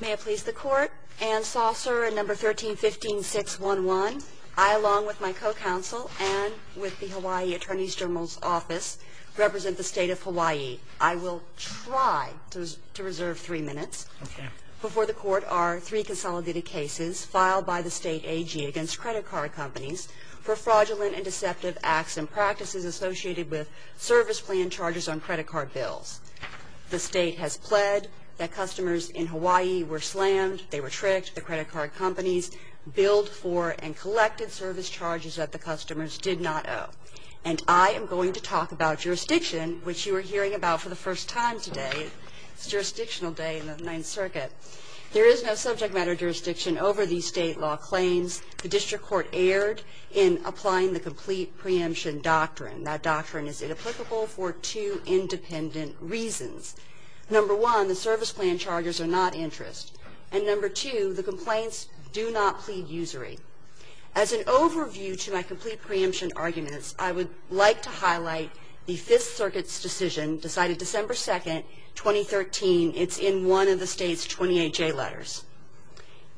May it please the Court, Anne Saucer at No. 1315-611. I, along with my co-counsel and with the Hawaii Attorney's General's Office, represent the State of Hawaii. I will try to reserve three minutes before the Court are three consolidated cases filed by the State AG against credit card companies for fraudulent and deceptive acts and practices associated with service plan charges on credit card bills. The State has pled that customers in Hawaii were slammed, they were tricked, the credit card companies billed for and collected service charges that the customers did not owe. And I am going to talk about jurisdiction, which you are hearing about for the first time today. It's jurisdictional day in the Ninth Circuit. There is no subject matter jurisdiction over these State law claims. The District Court erred in applying the complete preemption doctrine. That doctrine is inapplicable for two independent reasons. Number one, the service plan charges are not interest. And number two, the complaints do not plead usury. As an overview to my complete preemption arguments, I would like to highlight the Fifth Circuit's decision decided December 2, 2013. It's in one of the State's 28J letters.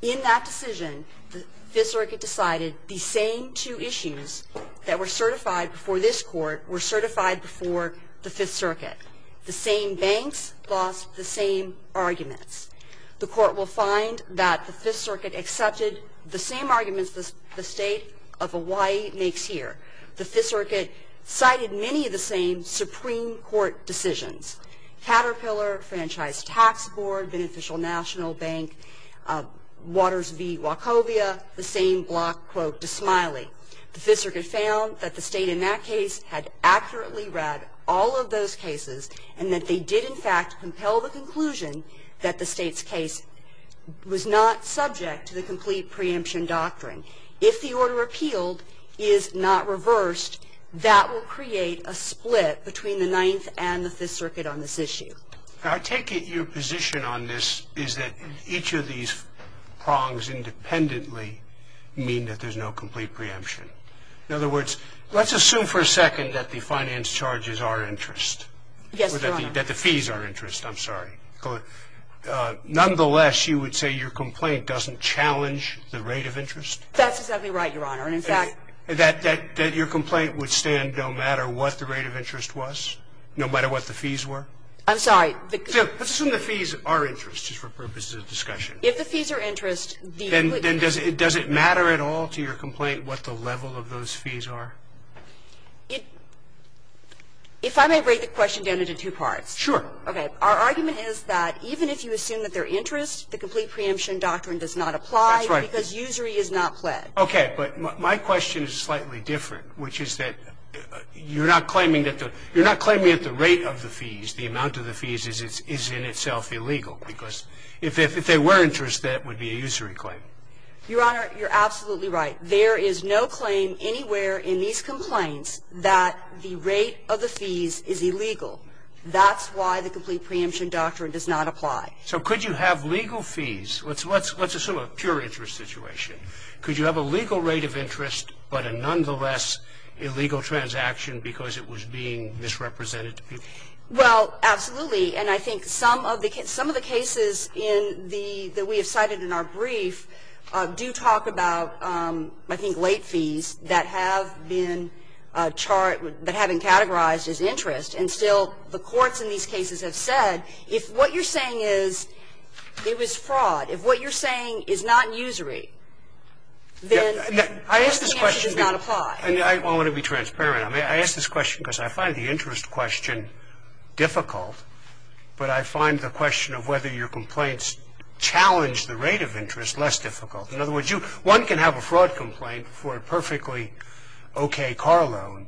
In that decision, the Fifth Circuit decided the same two issues that were certified before this Court were certified before the Fifth Circuit. The same banks lost the same arguments. The Court will find that the Fifth Circuit accepted the same arguments the State of Hawaii makes here. The Fifth Circuit cited many of the same Supreme Court decisions. Caterpillar, Franchise Tax Board, Beneficial National Bank, Waters v. Wachovia, the same block, quote, Dismiley. The Fifth Circuit found that the State in that case had accurately read all of those cases and that they did, in fact, compel the conclusion that the State's case was not subject to the complete preemption doctrine. If the order appealed is not reversed, that will create a split between the Ninth and the Fifth Circuit on this issue. I take it your position on this is that each of these prongs independently mean that there's no complete preemption. In other words, let's assume for a second that the finance charges are interest. Yes, Your Honor. Or that the fees are interest. I'm sorry. Nonetheless, you would say your complaint doesn't challenge the rate of interest? That's exactly right, Your Honor. And, in fact, That your complaint would stand no matter what the rate of interest was, no matter what the fees were? I'm sorry. Let's assume the fees are interest, just for purposes of discussion. If the fees are interest, then does it matter at all to your complaint what the level of those fees are? If I may break the question down into two parts. Sure. Okay. Our argument is that even if you assume that they're interest, the complete preemption doctrine does not apply. That's right. Because usury is not pled. Okay. But my question is slightly different, which is that you're not claiming that the rate of the fees, the amount of the fees, is in itself illegal. Because if they were interest, that would be a usury claim. Your Honor, you're absolutely right. There is no claim anywhere in these complaints that the rate of the fees is illegal. That's why the complete preemption doctrine does not apply. So could you have legal fees? Let's assume a pure interest situation. Could you have a legal rate of interest, but a nonetheless illegal transaction because it was being misrepresented to people? Well, absolutely. And I think some of the cases that we have cited in our brief do talk about, I think, late fees that have been categorized as interest. And still, the courts in these cases have said, if what you're saying is it was fraud, if what you're saying is not usury, then the answer does not apply. I want to be transparent. I ask this question because I find the interest question difficult, but I find the question of whether your complaints challenge the rate of interest less difficult. In other words, one can have a fraud complaint for a perfectly okay car loan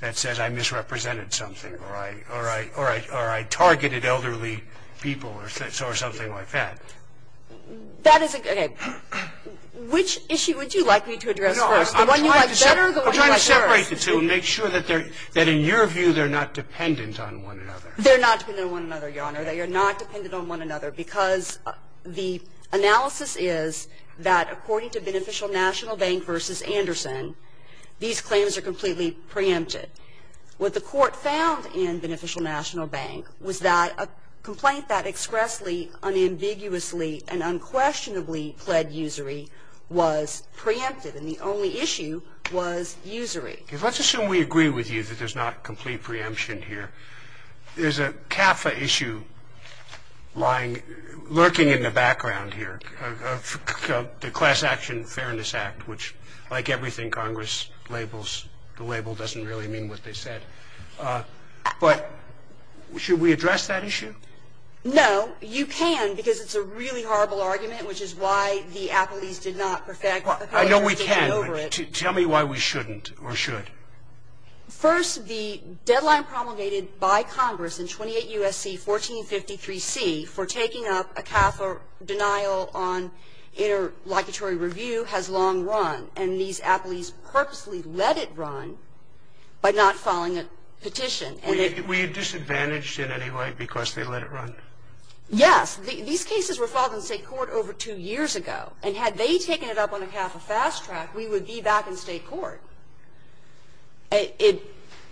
that says I misrepresented something or I targeted elderly people or something like that. That is a good question. Which issue would you like me to address first? The one you like better or the one you like worse? I'm trying to separate the two and make sure that in your view they're not dependent on one another. They're not dependent on one another, Your Honor. They are not dependent on one another because the analysis is that according to Beneficial National Bank v. Anderson, these claims are completely preempted. What the Court found in Beneficial National Bank was that a complaint that expressly unambiguously and unquestionably pled usury was preempted, and the only issue was usury. Let's assume we agree with you that there's not complete preemption here. There's a CAFA issue lying, lurking in the background here, the Class Action Fairness Act, which like everything Congress labels, the label doesn't really mean what they said. But should we address that issue? No. You can because it's a really horrible argument, which is why the appellees did not perfect the petition over it. I know we can, but tell me why we shouldn't or should. First, the deadline promulgated by Congress in 28 U.S.C. 1453C for taking up a CAFA denial on interlocutory review has long run, and these appellees purposely let it run by not filing a petition. We are disadvantaged in any way because they let it run? Yes. These cases were filed in State court over two years ago. And had they taken it up on a CAFA fast track, we would be back in State court.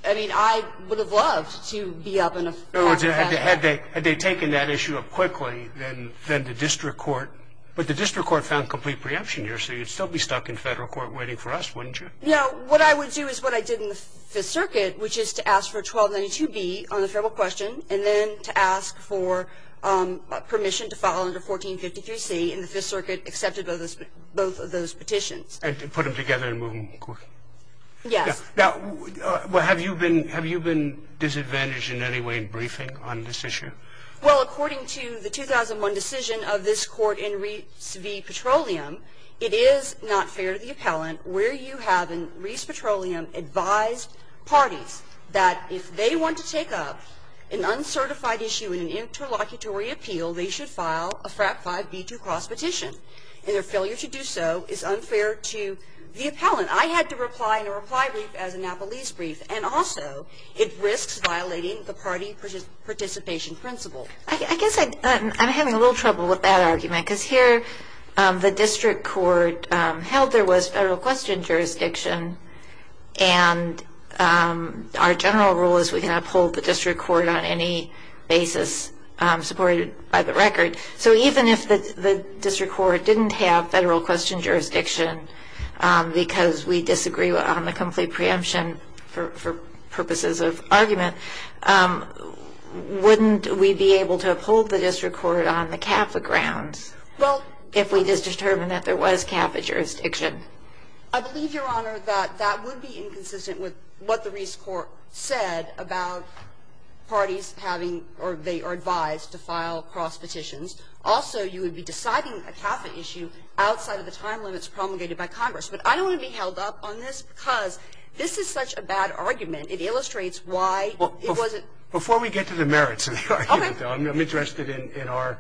I mean, I would have loved to be up in a CAFA fast track. Had they taken that issue up quickly, then the district court, but the district court found complete preemption here, so you'd still be stuck in Federal court waiting for us, wouldn't you? No. What I would do is what I did in the Fifth Circuit, which is to ask for 1292B on the Federal question, and then to ask for permission to file under 1453C, and the Fifth Circuit accepted both of those petitions. And put them together and move them quickly? Yes. Now, have you been disadvantaged in any way in briefing on this issue? Well, according to the 2001 decision of this Court in Reese v. Petroleum, it is not fair to the appellant where you have in Reese Petroleum advised parties that if they want to take up an uncertified issue in an interlocutory appeal, they should file a FRAP 5B2 cross petition. And their failure to do so is unfair to the appellant. I had to reply in a reply brief as a Napolese brief. And also, it risks violating the party participation principle. I guess I'm having a little trouble with that argument, because here the district court held there was Federal question jurisdiction, and our general rule is we can uphold the district court on any basis supported by the record. So even if the district court didn't have Federal question jurisdiction because we disagree on the complete preemption for purposes of argument, wouldn't we be able to uphold the district court on the Catholic grounds? Well, if we just determined that there was Catholic jurisdiction. I believe, Your Honor, that that would be inconsistent with what the Reese Court said about parties having or they are advised to file cross petitions. Also, you would be deciding a Catholic issue outside of the time limits promulgated by Congress. But I don't want to be held up on this, because this is such a bad argument. It illustrates why it wasn't ---- Before we get to the merits of the argument, though, I'm interested in our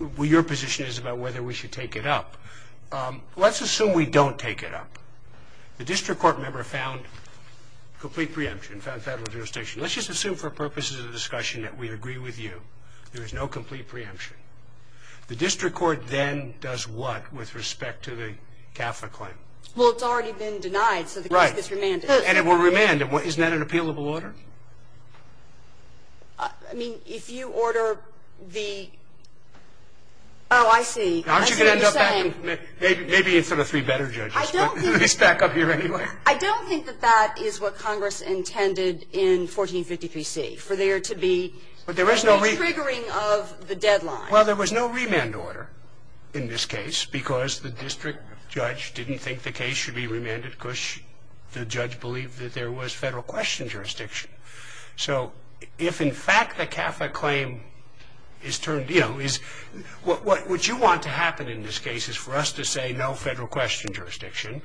---- The question is about whether we should take it up. Let's assume we don't take it up. The district court member found complete preemption, found Federal jurisdiction. Let's just assume for purposes of discussion that we agree with you there is no complete preemption. The district court then does what with respect to the Catholic claim? Well, it's already been denied, so the case gets remanded. Right. And it will remand. Isn't that an appealable order? I mean, if you order the ---- Oh, I see. I see what you're saying. Maybe it's for the three better judges, but let's back up here anyway. I don't think that that is what Congress intended in 1453c, for there to be a retriggering of the deadline. Well, there was no remand order in this case, because the district judge didn't think the case should be remanded because the judge believed that there was Federal question jurisdiction. So if, in fact, the Catholic claim is turned, you know, what you want to happen in this case is for us to say no Federal question jurisdiction.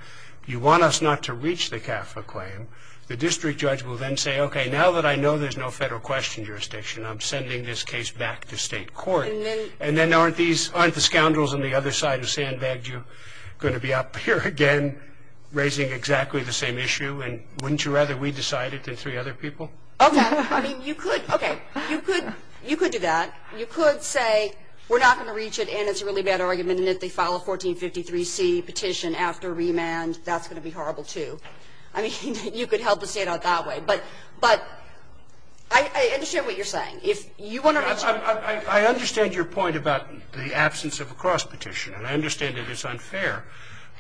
You want us not to reach the Catholic claim. The district judge will then say, okay, now that I know there's no Federal question jurisdiction, I'm sending this case back to state court. And then aren't the scoundrels on the other side of sandbag you going to be up here again raising exactly the same issue? And wouldn't you rather we decide it than three other people? Okay. I mean, you could. Okay. You could do that. You could say we're not going to reach it and it's a really bad argument, and if they file a 1453c petition after remand, that's going to be horrible, too. I mean, you could help the State out that way. But I understand what you're saying. If you want to reach it. I understand your point about the absence of a cross-petition, and I understand that it's unfair.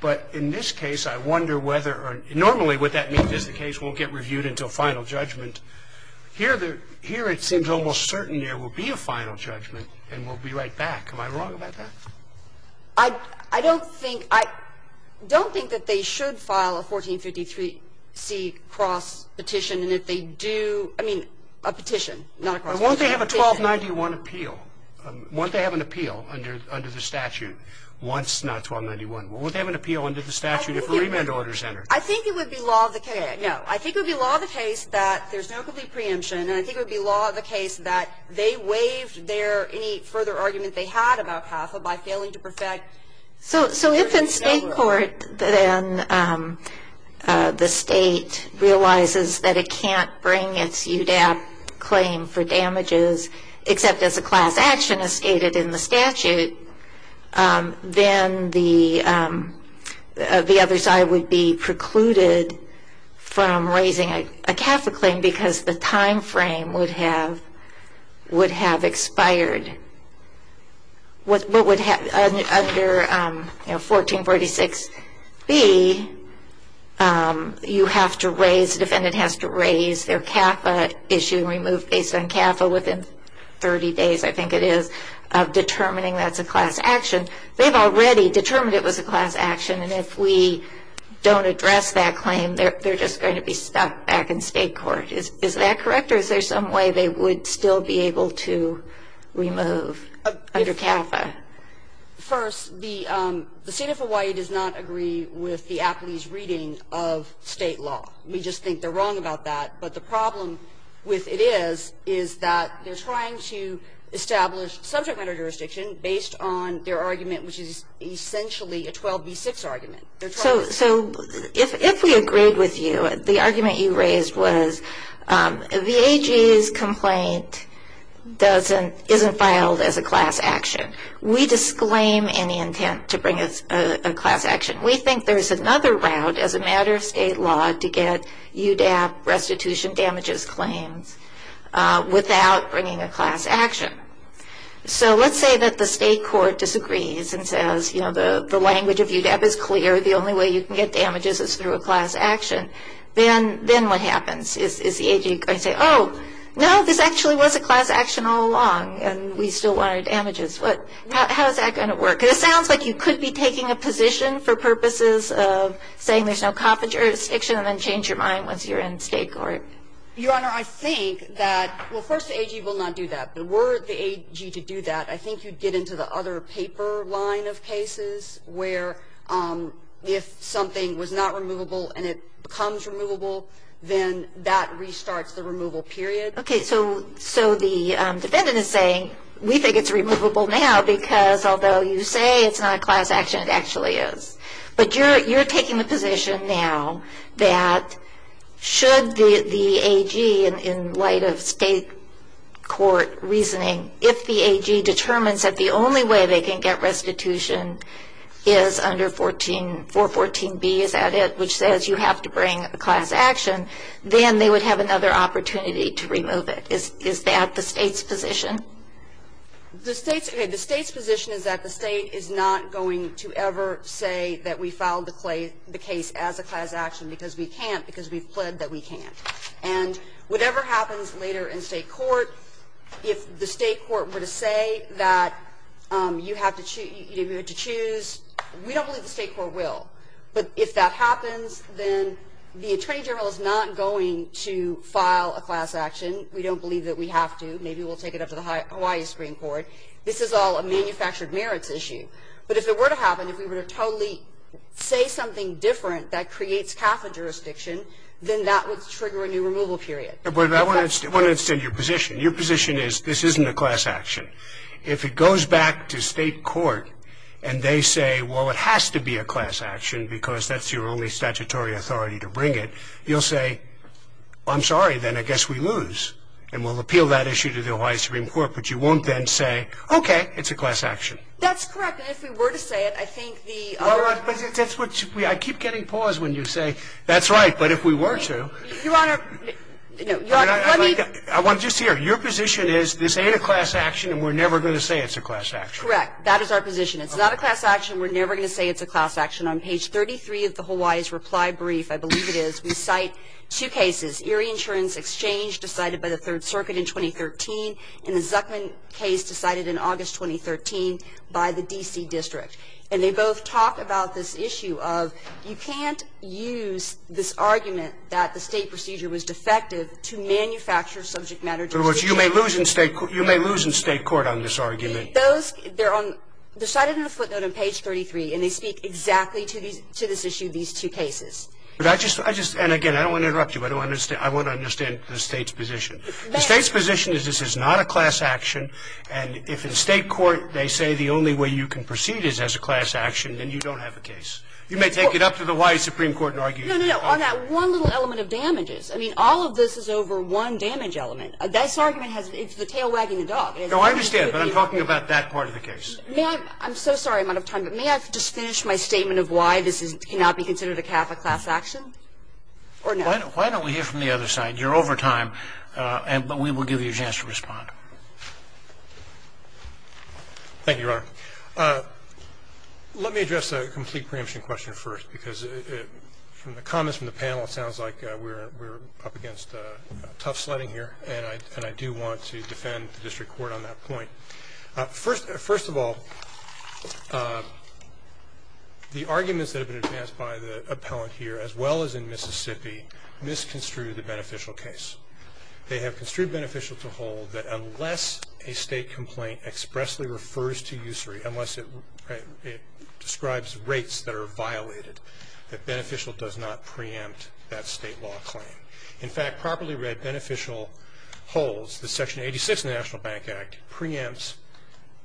But in this case, I wonder whether or not normally what that means is the case won't get reviewed until final judgment. Here it seems almost certain there will be a final judgment and we'll be right back. Am I wrong about that? I don't think that they should file a 1453c cross-petition. And if they do, I mean, a petition, not a cross-petition. Won't they have a 1291 appeal? Won't they have an appeal under the statute? Once, not 1291. Won't they have an appeal under the statute if a remand order is entered? I think it would be law of the case that there's no complete preemption, and I think it would be law of the case that they waived any further argument they had about HAFLA by failing to perfect. So if in State court then the State realizes that it can't bring its UDAP claim for damages except as a class action as stated in the statute, then the other side would be precluded from raising a CAFLA claim because the time frame would have expired. Under 1446b, you have to raise, the defendant has to raise their CAFLA issue and remove based on CAFLA within 30 days, I think it is, of determining that's a class action. They've already determined it was a class action, and if we don't address that claim, they're just going to be stuck back in State court. Is that correct, or is there some way they would still be able to remove under CAFLA? First, the State of Hawaii does not agree with the Apley's reading of State law. We just think they're wrong about that. But the problem with it is, is that they're trying to establish subject matter jurisdiction based on their argument, which is essentially a 12b6 argument. So if we agreed with you, the argument you raised was VAG's complaint isn't filed as a class action. We disclaim any intent to bring it as a class action. We think there's another route as a matter of State law to get UDAP restitution damages claims without bringing a class action. So let's say that the State court disagrees and says, you know, the language of UDAP is clear, the only way you can get damages is through a class action. Then what happens? Is the AG going to say, oh, no, this actually was a class action all along, and we still want our damages. How is that going to work? Because it sounds like you could be taking a position for purposes of saying there's no coppage jurisdiction and then change your mind once you're in State court. Your Honor, I think that, well, first, the AG will not do that. But were the AG to do that, I think you'd get into the other paper line of cases where if something was not removable and it becomes removable, then that restarts the removal period. Okay. So the defendant is saying, we think it's removable now because although you say it's not a class action, it actually is. But you're taking the position now that should the AG, in light of State court reasoning, if the AG determines that the only way they can get restitution is under 414B, is that it, which says you have to bring a class action, then they would have another opportunity to remove it. Is that the State's position? The State's position is that the State is not going to ever say that we filed the case as a class action because we can't, because we've pled that we can't. And whatever happens later in State court, if the State court were to say that you have to choose, we don't believe the State court will. But if that happens, then the Attorney General is not going to file a class action. We don't believe that we have to. Maybe we'll take it up to the Hawaii Supreme Court. This is all a manufactured merits issue. But if it were to happen, if we were to totally say something different that creates Catholic jurisdiction, then that would trigger a new removal period. But I want to understand your position. Your position is this isn't a class action. If it goes back to State court and they say, well, it has to be a class action because that's your only statutory authority to bring it, you'll say, well, I'm sorry, then I guess we lose. And we'll appeal that issue to the Hawaii Supreme Court. But you won't then say, okay, it's a class action. That's correct. And if we were to say it, I think the other ---- But that's what we ---- I keep getting pause when you say, that's right. But if we were to ---- Your Honor, no. Your Honor, let me ---- I want to just hear. Your position is this ain't a class action and we're never going to say it's a class action. Correct. That is our position. It's not a class action. We're never going to say it's a class action. On page 33 of the Hawaii's reply brief, I believe it is, we cite two cases, Erie Insurance Exchange decided by the Third Circuit in 2013 and the Zuckman case decided in August 2013 by the D.C. District. And they both talk about this issue of you can't use this argument that the State procedure was defective to manufacture subject matter ---- In other words, you may lose in State ---- you may lose in State court on this argument. Those ---- they're on ---- they're cited in the footnote on page 33 and they speak exactly to these ---- to this issue, these two cases. But I just ---- I just ---- and, again, I don't want to interrupt you. I don't want to ---- I want to understand the State's position. The State's position is this is not a class action and if in State court they say the only way you can proceed is as a class action, then you don't have a case. You may take it up to the Hawaii Supreme Court and argue ---- No, no, no, on that one little element of damages. I mean, all of this is over one damage element. This argument has ---- it's the tail wagging the dog. No, I understand, but I'm talking about that part of the case. May I ---- I'm so sorry I'm out of time, but may I just finish my statement of why this is ---- cannot be considered a Kappa class action? Or no? Why don't we hear from the other side? You're over time, but we will give you a chance to respond. Thank you, Your Honor. Let me address the complete preemption question first because from the comments from the panel it sounds like we're up against tough sledding here and I do want to defend the district court on that point. First of all, the arguments that have been advanced by the appellant here, as well as in Mississippi, misconstrued the beneficial case. They have construed beneficial to hold that unless a state complaint expressly refers to usury, unless it describes rates that are violated, that beneficial does not preempt that state law claim. In fact, properly read, beneficial holds that Section 86 of the National Bank Act preempts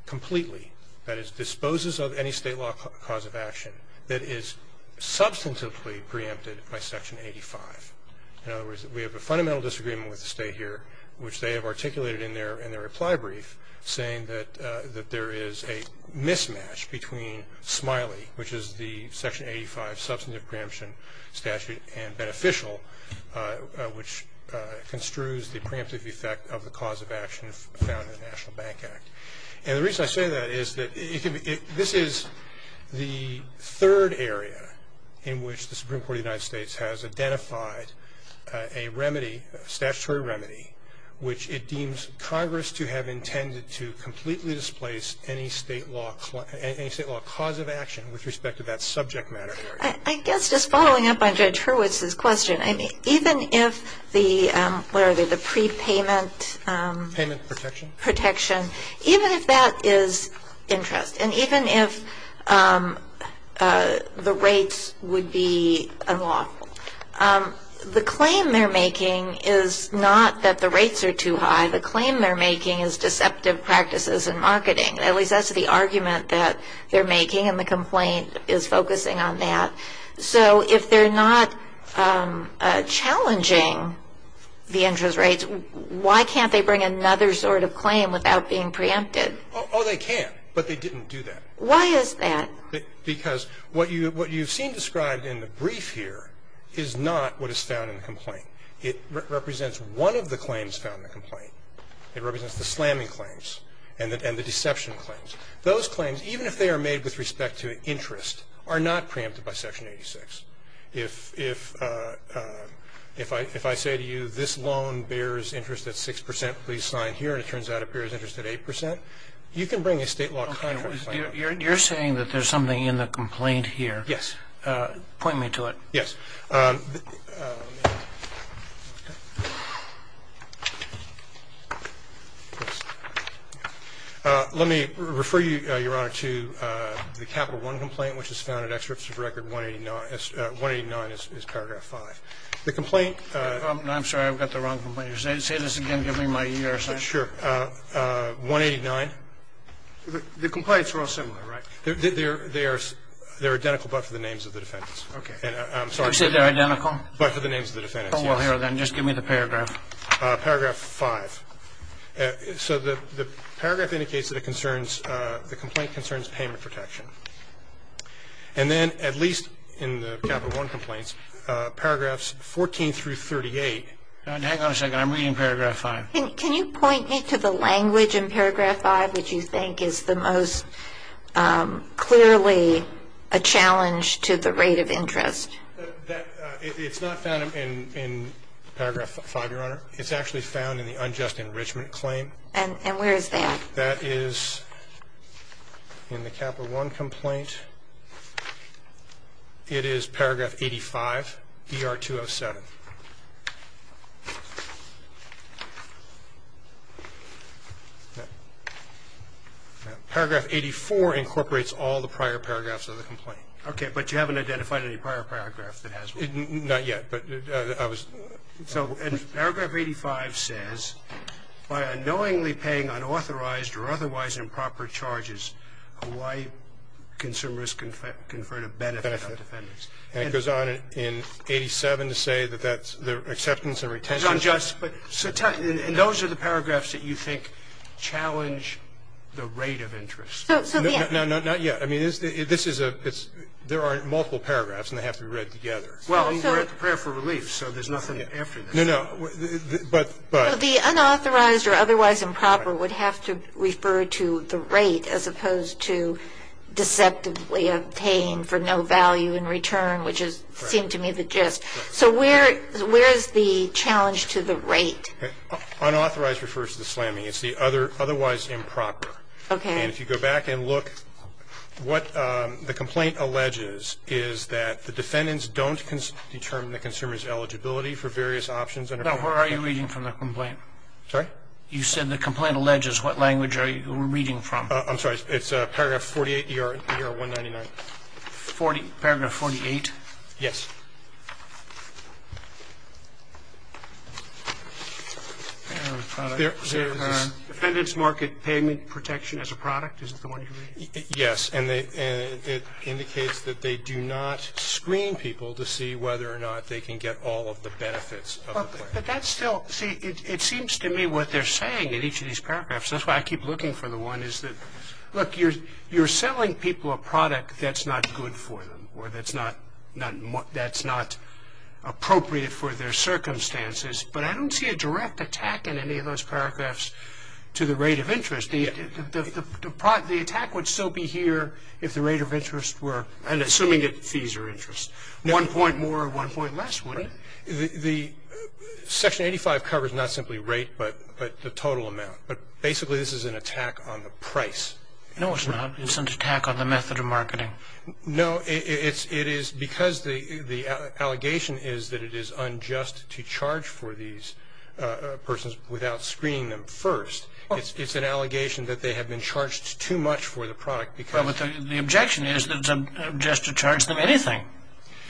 completely, that is, disposes of any state law cause of action that is substantively preempted by Section 85. In other words, we have a fundamental disagreement with the state here which they have articulated in their reply brief saying that there is a mismatch between SMILEE, which is the Section 85 substantive preemption statute, and beneficial which construes the preemptive effect of the cause of action found in the National Bank Act. And the reason I say that is that this is the third area in which the Supreme Court of the United States has identified a remedy, statutory remedy, which it deems Congress to have intended to completely displace any state law cause of action with respect to that subject matter. I guess just following up on Judge Hurwitz's question, even if the prepayment protection, even if that is interest, and even if the rates would be unlawful, the claim they're making is not that the rates are too high. The claim they're making is deceptive practices in marketing. At least that's the argument that they're making, and the complaint is focusing on that. So if they're not challenging the interest rates, why can't they bring another sort of claim without being preempted? Oh, they can, but they didn't do that. Why is that? Because what you've seen described in the brief here is not what is found in the complaint. It represents one of the claims found in the complaint. It represents the slamming claims and the deception claims. Those claims, even if they are made with respect to interest, are not preempted by Section 86. If I say to you this loan bears interest at 6 percent, please sign here, and it turns out it bears interest at 8 percent, you can bring a state law contract claim. You're saying that there's something in the complaint here. Yes. Point me to it. Yes. Let me refer you, Your Honor, to the Capital I complaint, which is found in Excerpts of Record 189. 189 is paragraph 5. The complaint. I'm sorry. I've got the wrong complaint. Say this again. Give me my ER sign. Sure. 189. The complaints are all similar, right? They are identical, but for the names of the defendants. Okay. I'm sorry. You said they're identical? But for the names of the defendants, yes. Oh, well, here then. Just give me the paragraph. Paragraph 5. So the paragraph indicates that the complaint concerns payment protection. And then, at least in the Capital I complaints, paragraphs 14 through 38. Hang on a second. I'm reading paragraph 5. Can you point me to the language in paragraph 5 which you think is the most clearly a challenge to the rate of interest? It's not found in paragraph 5, Your Honor. It's actually found in the unjust enrichment claim. And where is that? That is in the Capital I complaint. It is paragraph 85, ER 207. Paragraph 84 incorporates all the prior paragraphs of the complaint. Okay. But you haven't identified any prior paragraph that has one. Not yet. So paragraph 85 says, by unknowingly paying unauthorized or otherwise improper charges, Hawaii consumers conferred a benefit on defendants. And it goes on in 87 to say that that's the acceptance and retention. And those are the paragraphs that you think challenge the rate of interest. Not yet. I mean, this is a ‑‑ there are multiple paragraphs, and they have to be read together. Well, we're at the prayer for relief, so there's nothing after this. No, no. But ‑‑ The unauthorized or otherwise improper would have to refer to the rate as opposed to deceptively obtained for no value in return, which seemed to me the gist. So where is the challenge to the rate? Unauthorized refers to the slamming. It's the otherwise improper. Okay. And if you go back and look, what the complaint alleges is that the defendants don't determine the consumer's eligibility for various options. No, where are you reading from the complaint? Sorry? You said the complaint alleges. What language are you reading from? I'm sorry. It's paragraph 48, ER 199. Paragraph 48? Yes. There is defendants' market payment protection as a product. Is that the one you're reading? Yes, and it indicates that they do not screen people to see whether or not they can get all of the benefits of the plan. But that's still ‑‑ see, it seems to me what they're saying in each of these paragraphs, that's why I keep looking for the one, is that, look, you're selling people a product that's not good for them or that's not appropriate for their circumstances. But I don't see a direct attack in any of those paragraphs to the rate of interest. The attack would still be here if the rate of interest were, and assuming that fees are interest, one point more or one point less, wouldn't it? The section 85 covers not simply rate but the total amount. But basically this is an attack on the price. No, it's not. No, it is because the allegation is that it is unjust to charge for these persons without screening them first. It's an allegation that they have been charged too much for the product because ‑‑ But the objection is that it's unjust to charge them anything.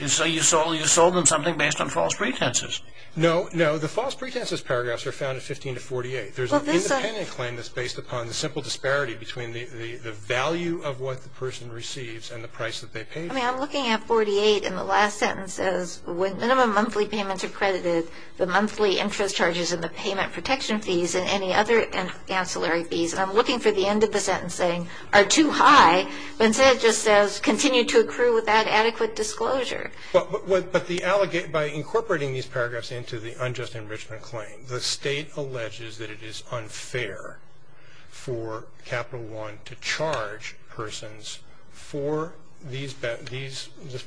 So you sold them something based on false pretenses. No, no, the false pretenses paragraphs are found in 15 to 48. There's an independent claim that's based upon the simple disparity between the value of what the person receives and the price that they pay for it. I mean, I'm looking at 48, and the last sentence says, when minimum monthly payments are credited, the monthly interest charges and the payment protection fees and any other ancillary fees, and I'm looking for the end of the sentence saying, are too high, but instead it just says, continue to accrue without adequate disclosure. But by incorporating these paragraphs into the unjust enrichment claim, the State alleges that it is unfair for Capital One to charge persons for this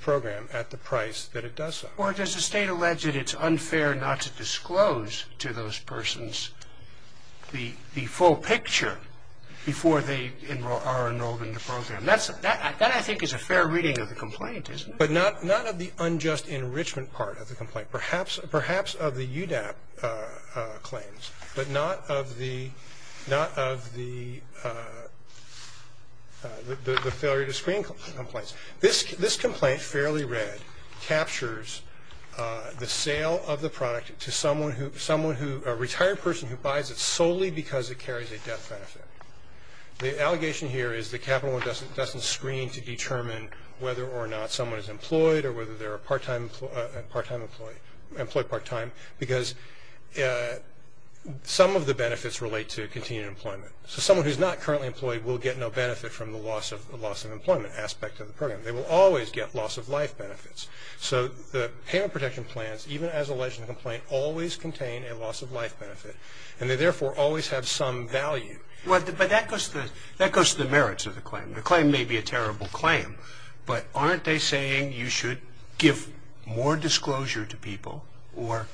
program at the price that it does so. Or does the State allege that it's unfair not to disclose to those persons the full picture before they are enrolled in the program? That, I think, is a fair reading of the complaint, isn't it? But not of the unjust enrichment part of the complaint. Perhaps of the UDAP claims, but not of the failure to screen complaints. This complaint, fairly read, captures the sale of the product to a retired person who buys it solely because it carries a death benefit. The allegation here is that Capital One doesn't screen to determine whether or not someone is employed or whether they're a part-time employee, employed part-time, because some of the benefits relate to continued employment. So someone who's not currently employed will get no benefit from the loss of employment aspect of the program. They will always get loss-of-life benefits. So the payment protection plans, even as alleged in the complaint, always contain a loss-of-life benefit, and they therefore always have some value. But that goes to the merits of the claim. The claim may be a terrible claim, but aren't they saying you should give more disclosure to people or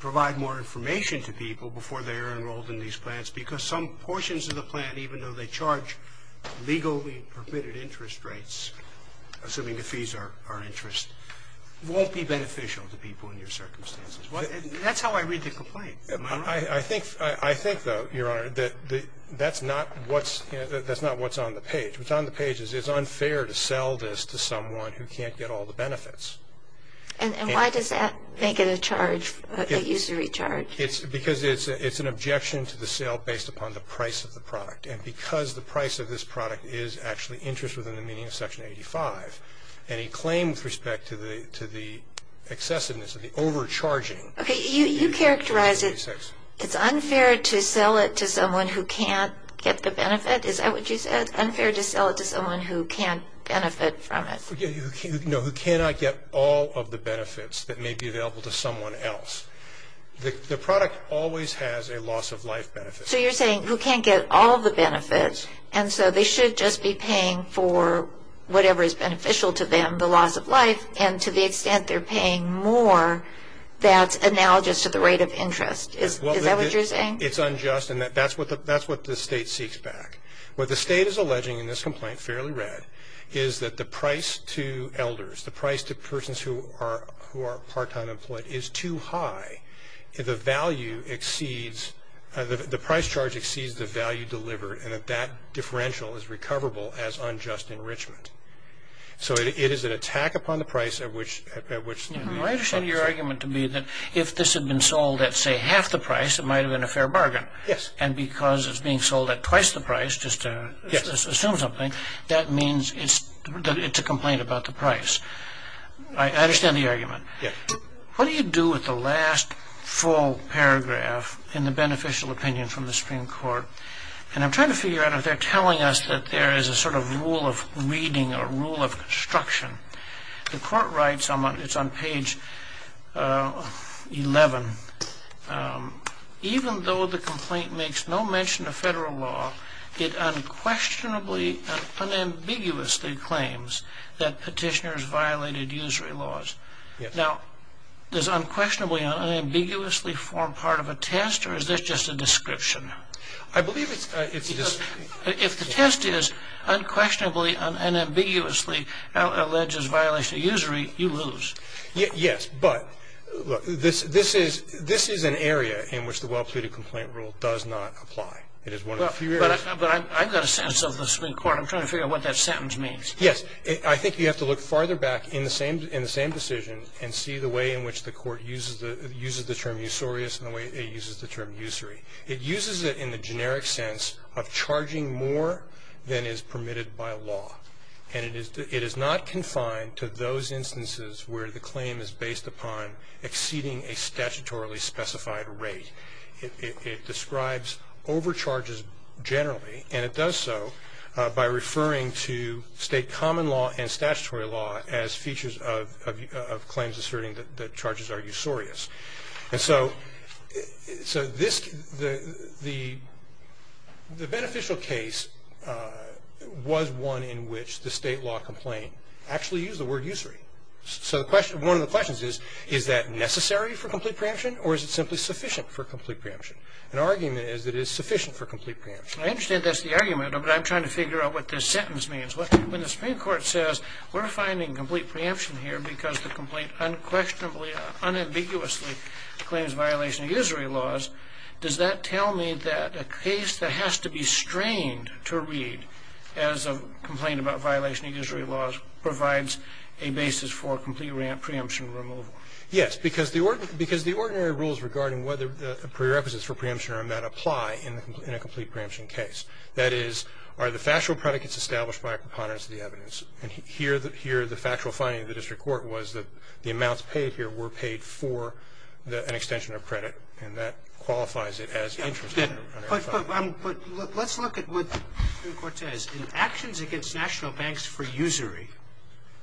provide more information to people before they're enrolled in these plans? Because some portions of the plan, even though they charge legally permitted interest rates, assuming the fees are interest, won't be beneficial to people in your circumstances. That's how I read the complaint. Am I right? I think, though, Your Honor, that that's not what's on the page. What's on the page is it's unfair to sell this to someone who can't get all the benefits. And why does that make it a charge, a usury charge? Because it's an objection to the sale based upon the price of the product. And because the price of this product is actually interest within the meaning of Section 85, any claim with respect to the excessiveness of the overcharging Okay, you characterize it. It's unfair to sell it to someone who can't get the benefit? Is that what you said? Unfair to sell it to someone who can't benefit from it? No, who cannot get all of the benefits that may be available to someone else. The product always has a loss of life benefit. So you're saying who can't get all the benefits, and so they should just be paying for whatever is beneficial to them, the loss of life, and to the extent they're paying more, that's analogous to the rate of interest. Is that what you're saying? It's unjust, and that's what the State seeks back. What the State is alleging in this complaint, fairly read, is that the price to elders, the price to persons who are part-time employed, is too high. The value exceeds, the price charge exceeds the value delivered, and that that differential is recoverable as unjust enrichment. So it is an attack upon the price at which the... I understand your argument to be that if this had been sold at, say, half the price, it might have been a fair bargain. Yes. And because it's being sold at twice the price, just to assume something, that means it's a complaint about the price. I understand the argument. Yes. What do you do with the last full paragraph in the beneficial opinion from the Supreme Court? And I'm trying to figure out if they're telling us that there is a sort of rule of reading or rule of construction. The Court writes on page 11, even though the complaint makes no mention of federal law, it unquestionably, unambiguously claims that petitioners violated usury laws. Yes. Now, does unquestionably, unambiguously form part of a test, or is this just a description? I believe it's just... If the test is unquestionably, unambiguously alleges violation of usury, you lose. Yes, but this is an area in which the well-pleaded complaint rule does not apply. It is one of the few areas... But I've got a sense of the Supreme Court. I'm trying to figure out what that sentence means. Yes. I think you have to look farther back in the same decision and see the way in which the Court uses the term usurious and the way it uses the term usury. It uses it in the generic sense of charging more than is permitted by law. And it is not confined to those instances where the claim is based upon exceeding a statutorily specified rate. It describes overcharges generally, and it does so by referring to state common law and statutory law as features of claims asserting that charges are usurious. And so the beneficial case was one in which the state law complaint actually used the word usury. So one of the questions is, is that necessary for complete preemption, or is it simply sufficient for complete preemption? An argument is that it is sufficient for complete preemption. I understand that's the argument, but I'm trying to figure out what this sentence means. When the Supreme Court says, we're finding complete preemption here because the complaint unquestionably, unambiguously claims violation of usury laws, does that tell me that a case that has to be strained to read as a complaint about violation of usury laws provides a basis for complete preemption removal? Yes. Because the ordinary rules regarding whether prerequisites for preemption or not apply in a complete preemption case. That is, are the factual predicates established by a preponderance of the evidence? And here the factual finding of the district court was that the amounts paid here were paid for an extension of credit, and that qualifies it as interest. But let's look at what the Supreme Court says. In actions against national banks for usury,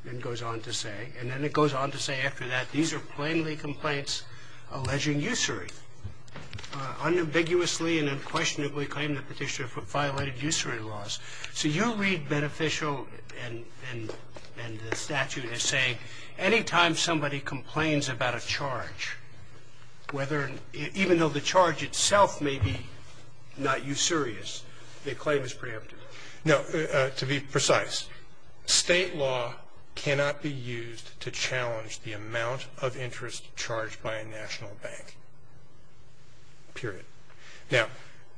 then goes on to say, and then it goes on to say after that, these are plainly complaints alleging usury. Unambiguously and unquestionably claim the Petitioner violated usury laws. So you read beneficial and the statute as saying, anytime somebody complains about a charge, even though the charge itself may be not usurious, the claim is preempted. No, to be precise, state law cannot be used to challenge the amount of interest charged by a national bank. Period. Now,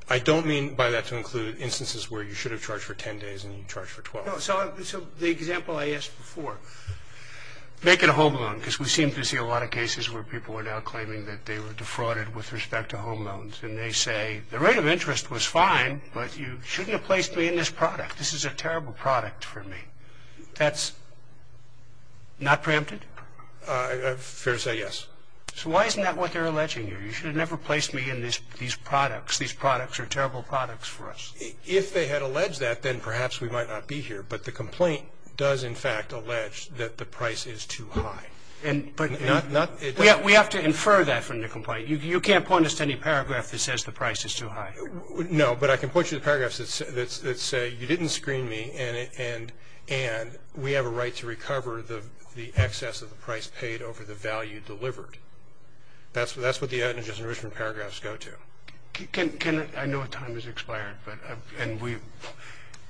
I don't mean by that to include instances where you should have charged for 10 days and you charged for 12. So the example I asked before, make it a home loan, because we seem to see a lot of cases where people are now claiming that they were defrauded with respect to home loans, and they say the rate of interest was fine, but you shouldn't have placed me in this product. This is a terrible product for me. That's not preempted? Fair to say, yes. So why isn't that what they're alleging here? You should have never placed me in these products. These products are terrible products for us. If they had alleged that, then perhaps we might not be here, but the complaint does, in fact, allege that the price is too high. We have to infer that from the complaint. You can't point us to any paragraph that says the price is too high. No, but I can point you to paragraphs that say you didn't screen me and we have a right to recover the excess of the price paid over the value delivered. That's what the evidence in the original paragraphs go to. Ken, I know time has expired, and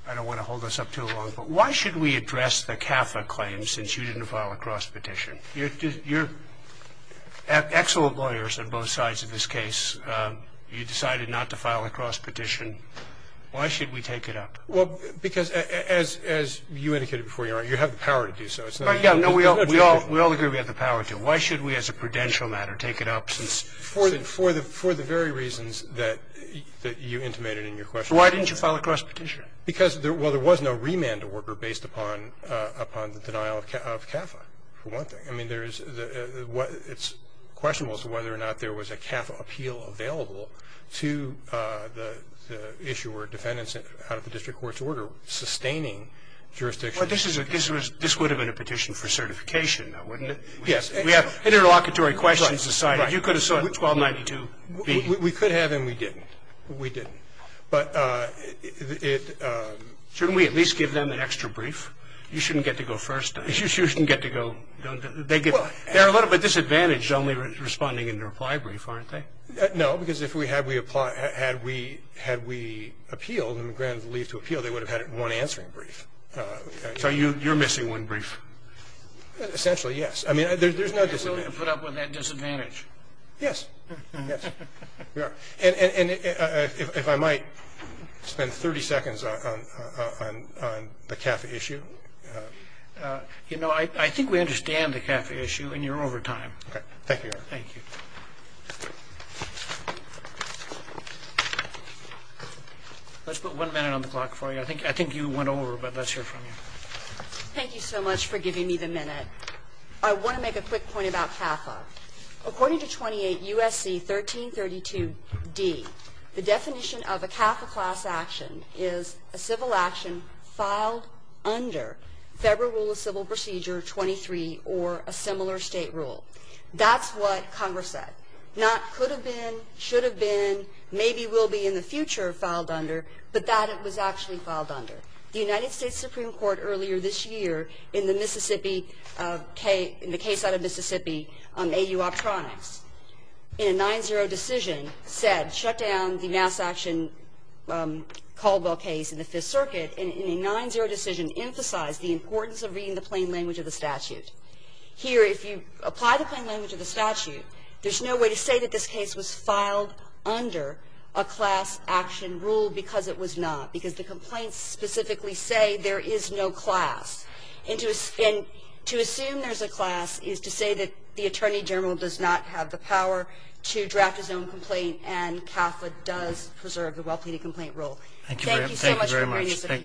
I don't want to hold this up too long, but why should we address the CAFA claim since you didn't file a cross petition? You're excellent lawyers on both sides of this case. You decided not to file a cross petition. Why should we take it up? Well, because, as you indicated before, Your Honor, you have the power to do so. But, yeah, no, we all agree we have the power to. Why should we as a prudential matter take it up since it's not? For the very reasons that you intimated in your question. So why didn't you file a cross petition? Because there was no remand to worker based upon the denial of CAFA, for one thing. I mean, it's questionable as to whether or not there was a CAFA appeal available to the issuer or defendants out of the district court's order sustaining jurisdiction. Well, this would have been a petition for certification, though, wouldn't it? Yes. We have interlocutory questions decided. You could have said 1292B. We could have and we didn't. We didn't. But it – Shouldn't we at least give them an extra brief? You shouldn't get to go first. You shouldn't get to go. They're a little bit disadvantaged only responding in their apply brief, aren't they? No, because if we had we appealed and granted the leave to appeal, they would have had one answering brief. So you're missing one brief. Essentially, yes. I mean, there's no disadvantage. You're not willing to put up with that disadvantage. Yes. Yes. And if I might spend 30 seconds on the CAFA issue. You know, I think we understand the CAFA issue and you're over time. Thank you, Your Honor. Thank you. Let's put one minute on the clock for you. I think you went over, but let's hear from you. Thank you so much for giving me the minute. I want to make a quick point about CAFA. According to 28 U.S.C. 1332d, the definition of a CAFA class action is a civil action filed under Federal Rule of Civil Procedure 23 or a similar state rule. That's what Congress said. Not could have been, should have been, maybe will be in the future filed under, but that it was actually filed under. The United States Supreme Court earlier this year in the Mississippi, in the case out of Mississippi, AU Optronics, in a 9-0 decision, said shut down the mass action Caldwell case in the Fifth Circuit in a 9-0 decision emphasized the importance of reading the plain language of the statute. Here, if you apply the plain language of the statute, there's no way to say that this case was filed under a class action rule because it was not, because the complaints specifically say there is no class. And to assume there's a class is to say that the Attorney General does not have the power to draft his own complaint and CAFA does preserve the well-pleaded complaint rule. Thank you so much for hearing us today.